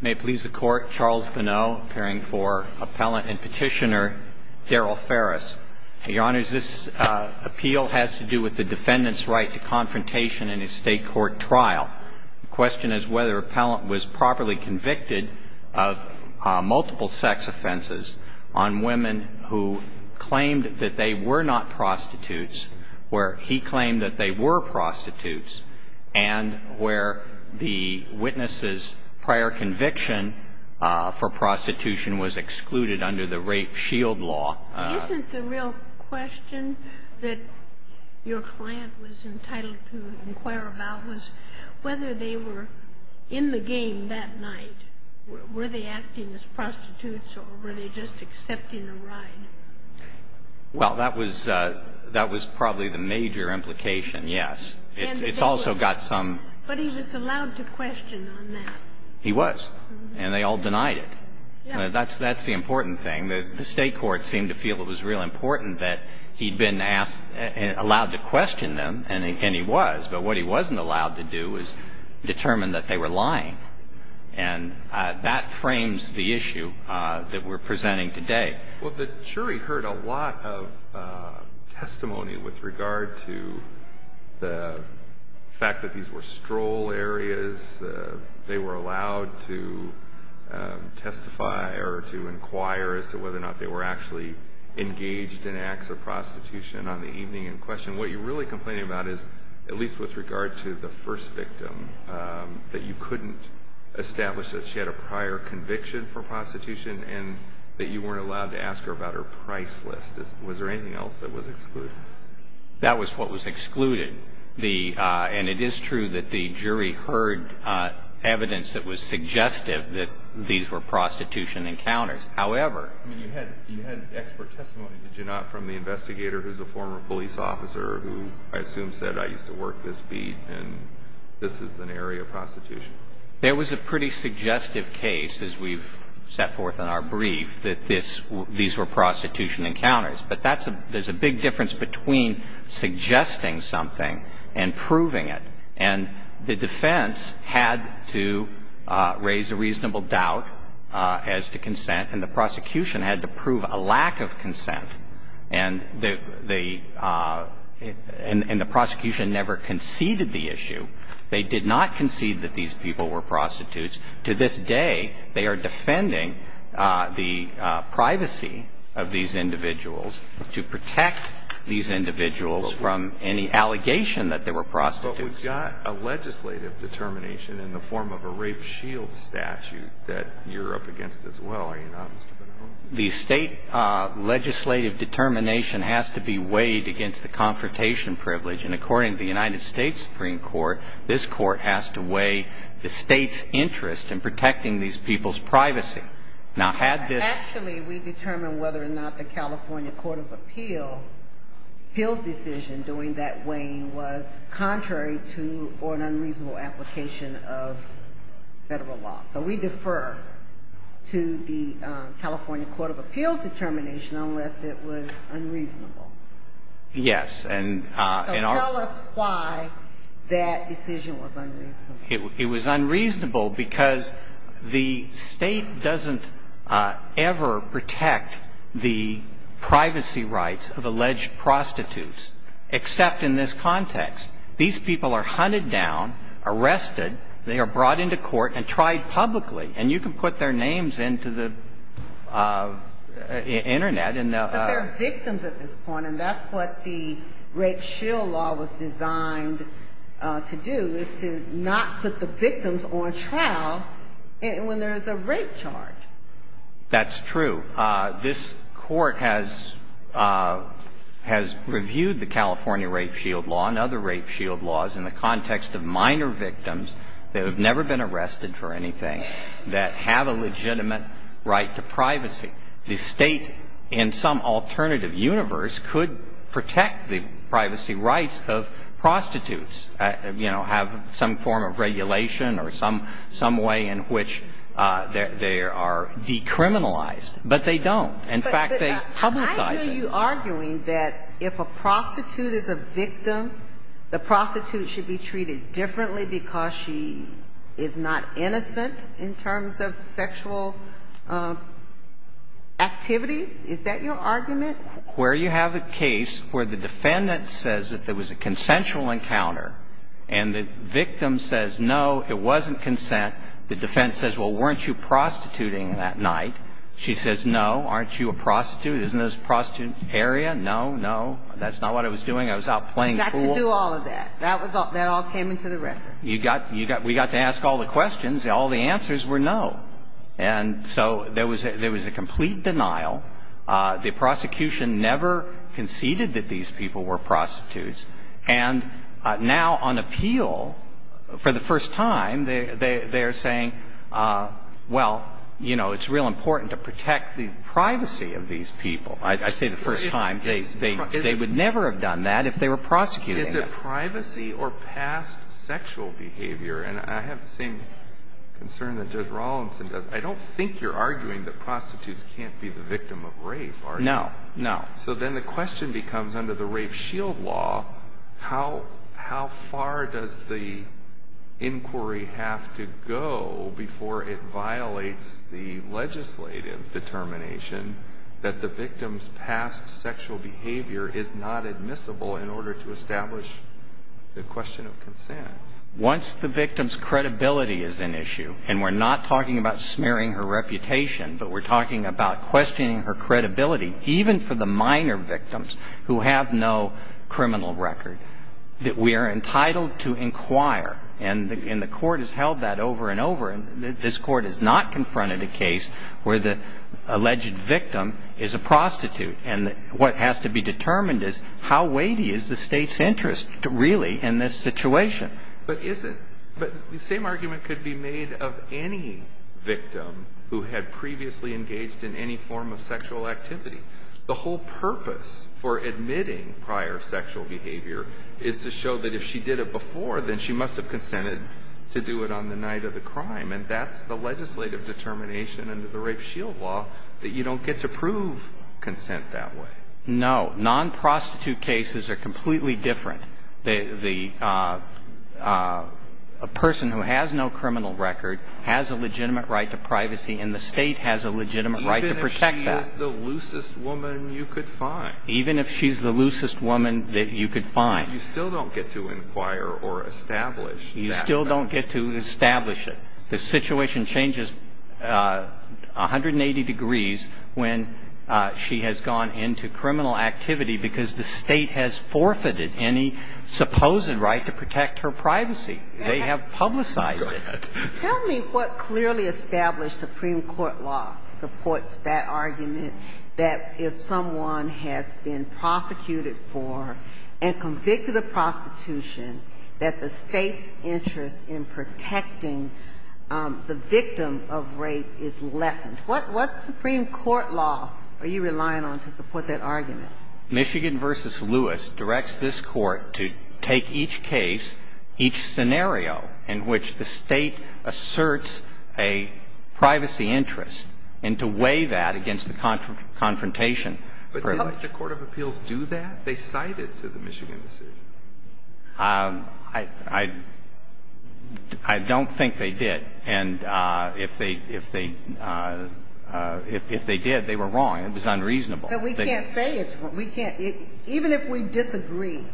May it please the Court, Charles Bonneau, appearing for Appellant and Petitioner, Darryl Farris. Your Honors, this appeal has to do with the defendant's right to confrontation in a state court trial. The question is whether the appellant was properly convicted of multiple sex offenses on women who claimed that they were not prostitutes, where he claimed that they were prostitutes, and where the witness's prior conviction for prostitution was excluded under the Rape Shield Law. Isn't the real question that your client was entitled to inquire about was whether they were in the game that night? Were they acting as prostitutes or were they just accepting a ride? Well, that was probably the major implication, yes. It's also got some... But he was allowed to question on that. He was. And they all denied it. That's the important thing. The state courts seemed to feel it was real important that he'd been allowed to question them, and he was. But what he wasn't allowed to do was determine that they were lying. And that frames the issue that we're presenting today. Well, the jury heard a lot of testimony with regard to the fact that these were stroll areas. They were allowed to testify or to inquire as to whether or not they were actually engaged in acts of prostitution on the evening in question. What you're really complaining about is, at least with regard to the first victim, that you couldn't establish that she had a prior conviction for prostitution and that you weren't allowed to ask her about her price list. Was there anything else that was excluded? That was what was excluded. And it is true that the jury heard evidence that was suggestive that these were prostitution encounters. However... I mean, you had expert testimony, did you not, from the investigator who's a former police officer who I assume said, I used to work this beat and this is an area of prostitution? There was a pretty suggestive case, as we've set forth in our brief, that these were prostitution encounters. But there's a big difference between suggesting something and proving it. And the defense had to raise a reasonable doubt as to consent, and the prosecution had to prove a lack of consent. And the prosecution never conceded the issue. They did not concede that these people were prostitutes. To this day, they are defending the privacy of these individuals to protect these individuals from any allegation that they were prostitutes. But we've got a legislative determination in the form of a rape shield statute that you're up against as well, are you not? The state legislative determination has to be weighed against the confrontation privilege. And according to the United States Supreme Court, this court has to weigh the state's interest in protecting these people's privacy. Now, had this... Actually, we determine whether or not the California Court of Appeal, Hill's decision doing that weighing was contrary to or an unreasonable application of Federal law. So we defer to the California Court of Appeal's determination unless it was unreasonable. Yes. So tell us why that decision was unreasonable. It was unreasonable because the state doesn't ever protect the privacy rights of alleged prostitutes, except in this context. These people are hunted down, arrested. They are brought into court and tried publicly. And you can put their names into the Internet. But they're victims at this point, and that's what the rape shield law was designed to do, is to not put the victims on trial when there's a rape charge. That's true. This court has reviewed the California rape shield law and other rape shield laws in the context of minor victims that have never been arrested for anything, that have a legitimate right to privacy. The state, in some alternative universe, could protect the privacy rights of prostitutes, you know, have some form of regulation or some way in which they are decriminalized. But they don't. In fact, they publicize it. But I hear you arguing that if a prostitute is a victim, the prostitute should be treated differently because she is not innocent in terms of sexual activities. Is that your argument? The case that you have, where you have a case where the defendant says that there was a consensual encounter and the victim says, no, it wasn't consent, the defendant says, well, weren't you prostituting that night? She says, no, aren't you a prostitute? Isn't this a prostitute area? No, no, that's not what I was doing. I was out playing pool. You got to do all of that. That was all ñ that all came into the record. You got ñ you got ñ we got to ask all the questions. All the answers were no. And so there was ñ there was a complete denial. The prosecution never conceded that these people were prostitutes. And now on appeal, for the first time, they are saying, well, you know, it's real important to protect the privacy of these people. I say the first time. They would never have done that if they were prosecuting them. Is it privacy or past sexual behavior? And I have the same concern that Judge Rawlinson does. I don't think you're arguing that prostitutes can't be the victim of rape, are you? No, no. So then the question becomes, under the Rape Shield Law, how far does the inquiry have to go before it violates the legislative determination that the victim's past sexual behavior is not admissible in order to establish the question of consent? Once the victim's credibility is an issue, and we're not talking about smearing her reputation, but we're talking about questioning her credibility, even for the minor victims who have no criminal record, that we are entitled to inquire. And the Court has held that over and over. And this Court has not confronted a case where the alleged victim is a prostitute. And what has to be determined is how weighty is the State's interest, really, in this situation? But is it? But the same argument could be made of any victim who had previously engaged in any form of sexual activity. The whole purpose for admitting prior sexual behavior is to show that if she did it before, then she must have consented to do it on the night of the crime. And that's the legislative determination under the Rape Shield Law, that you don't get to prove consent that way. No. Non-prostitute cases are completely different. A person who has no criminal record has a legitimate right to privacy, and the State has a legitimate right to protect that. Even if she is the loosest woman you could find. Even if she's the loosest woman that you could find. But you still don't get to inquire or establish that. You still don't get to establish it. The situation changes 180 degrees when she has gone into criminal activity because the State has forfeited any supposed right to protect her privacy. They have publicized it. Go ahead. Tell me what clearly established Supreme Court law supports that argument, that if someone has been prosecuted for and convicted of prostitution, that the State's interest in protecting the victim of rape is lessened. What Supreme Court law are you relying on to support that argument? Michigan v. Lewis directs this Court to take each case, each scenario, in which the State asserts a privacy interest and to weigh that against the confrontation. But didn't the court of appeals do that? They cited to the Michigan decision. I don't think they did. And if they did, they were wrong. It was unreasonable. But we can't say it's wrong. We can't. Even if we disagree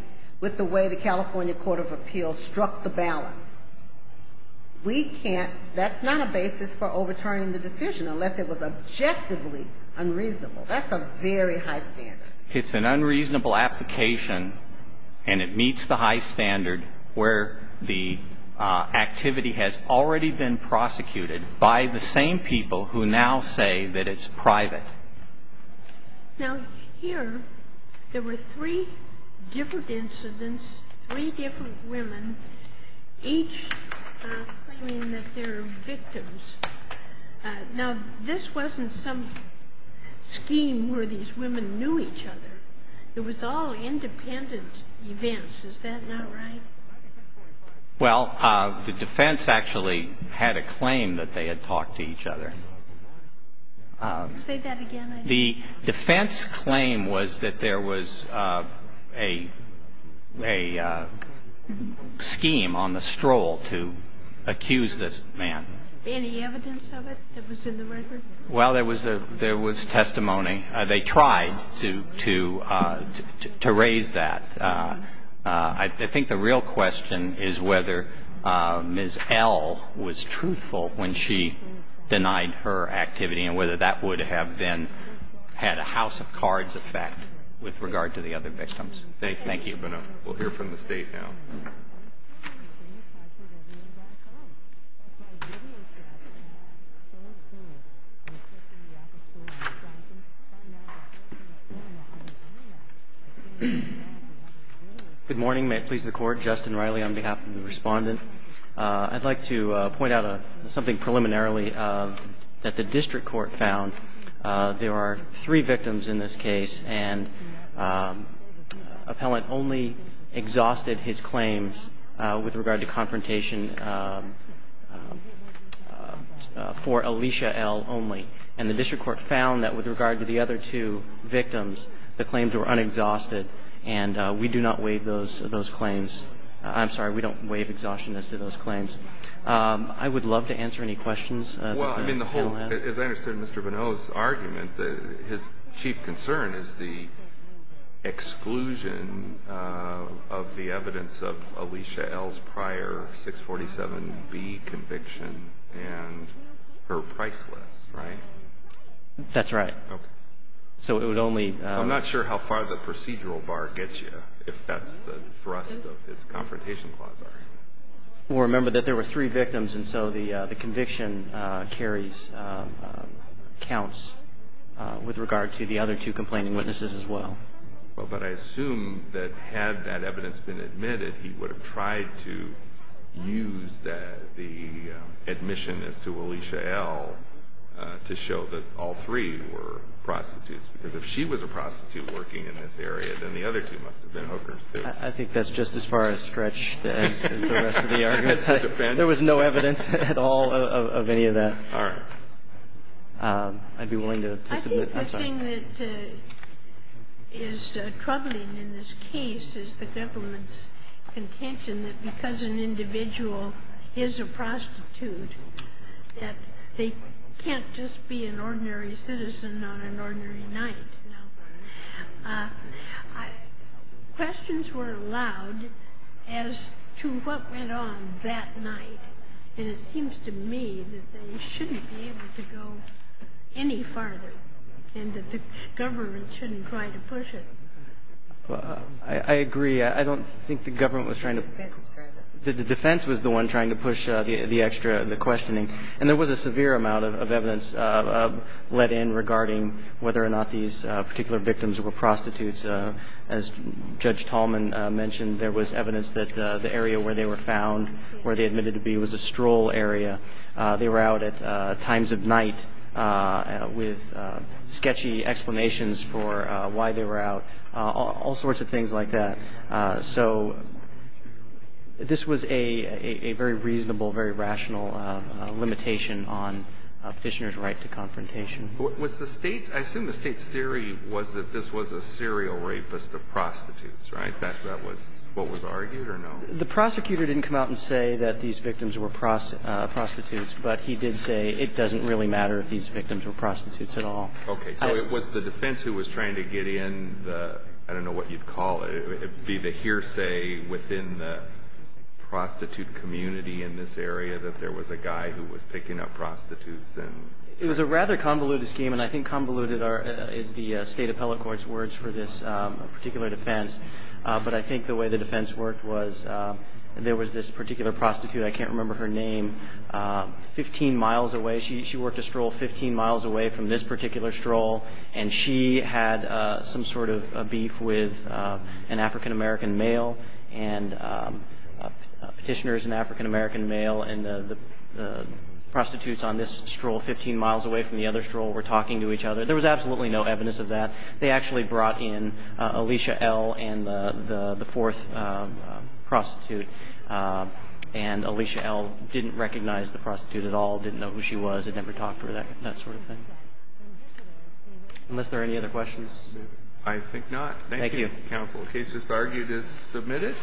with the way the California court of appeals struck the balance, we can't. That's not a basis for overturning the decision unless it was objectively unreasonable. That's a very high standard. It's an unreasonable application, and it meets the high standard where the activity has already been prosecuted by the same people who now say that it's private. Now, here, there were three different incidents, three different women, each claiming that they're victims. Now, this wasn't some scheme where these women knew each other. It was all independent events. Is that not right? Well, the defense actually had a claim that they had talked to each other. Say that again. The defense claim was that there was a scheme on the stroll to accuse this man. Any evidence of it that was in the record? Well, there was testimony. They tried to raise that. I think the real question is whether Ms. L. was truthful when she denied her activity and whether that would have then had a house of cards effect with regard to the other victims. Thank you. We'll hear from the State now. Good morning. May it please the Court. Justin Riley on behalf of the Respondent. I'd like to point out something preliminarily that the district court found. There are three victims in this case and appellant only exhausted his claims with regard to confrontation for Alicia L. only. And the district court found that with regard to the other two victims, the claims were unexhausted and we do not waive those claims. I'm sorry. We don't waive exhaustion as to those claims. I would love to answer any questions that the panel has. As I understand Mr. Bonneau's argument, his chief concern is the exclusion of the evidence of Alicia L.'s prior 647B conviction and her price list, right? That's right. Okay. So it would only – So I'm not sure how far the procedural bar gets you if that's the thrust of his confrontation clause, are you? Well, remember that there were three victims and so the conviction carries counts with regard to the other two complaining witnesses as well. Well, but I assume that had that evidence been admitted, he would have tried to use the admission as to Alicia L. to show that all three were prostitutes because if she was a prostitute working in this area, then the other two must have been hookers too. I think that's just as far a stretch as the rest of the argument. That's the defense. There was no evidence at all of any of that. All right. I'd be willing to submit – I'm sorry. I think the thing that is troubling in this case is the government's contention that because an individual is a prostitute that they can't just be an ordinary citizen on an ordinary night. Questions were allowed as to what went on that night and it seems to me that they shouldn't be able to go any farther and that the government shouldn't try to push it. Well, I agree. I don't think the government was trying to – the defense was the one trying to push the extra – the questioning. And there was a severe amount of evidence let in regarding whether or not these particular victims were prostitutes. As Judge Tallman mentioned, there was evidence that the area where they were found, where they admitted to be, was a stroll area. They were out at times of night with sketchy explanations for why they were out, all sorts of things like that. So this was a very reasonable, very rational limitation on Fishner's right to confrontation. Was the State's – I assume the State's theory was that this was a serial rapist of prostitutes, right? That's what was argued or no? The prosecutor didn't come out and say that these victims were prostitutes, but he did say it doesn't really matter if these victims were prostitutes at all. Okay. So it was the defense who was trying to get in the – I don't know what you'd call it. It would be the hearsay within the prostitute community in this area that there was a guy who was picking up prostitutes and – It was a rather convoluted scheme, and I think convoluted is the State Appellate Court's words for this particular defense. But I think the way the defense worked was there was this particular prostitute, I can't remember her name, 15 miles away. She worked a stroll 15 miles away from this particular stroll, and she had some sort of beef with an African-American male, and Petitioner is an African-American male, and the prostitutes on this stroll, 15 miles away from the other stroll, were talking to each other. There was absolutely no evidence of that. They actually brought in Alicia L. and the fourth prostitute, and Alicia L. didn't recognize the prostitute at all, didn't know who she was, had never talked to her, that sort of thing. Unless there are any other questions. I think not. Thank you. Thank you, counsel. The case that's argued is submitted.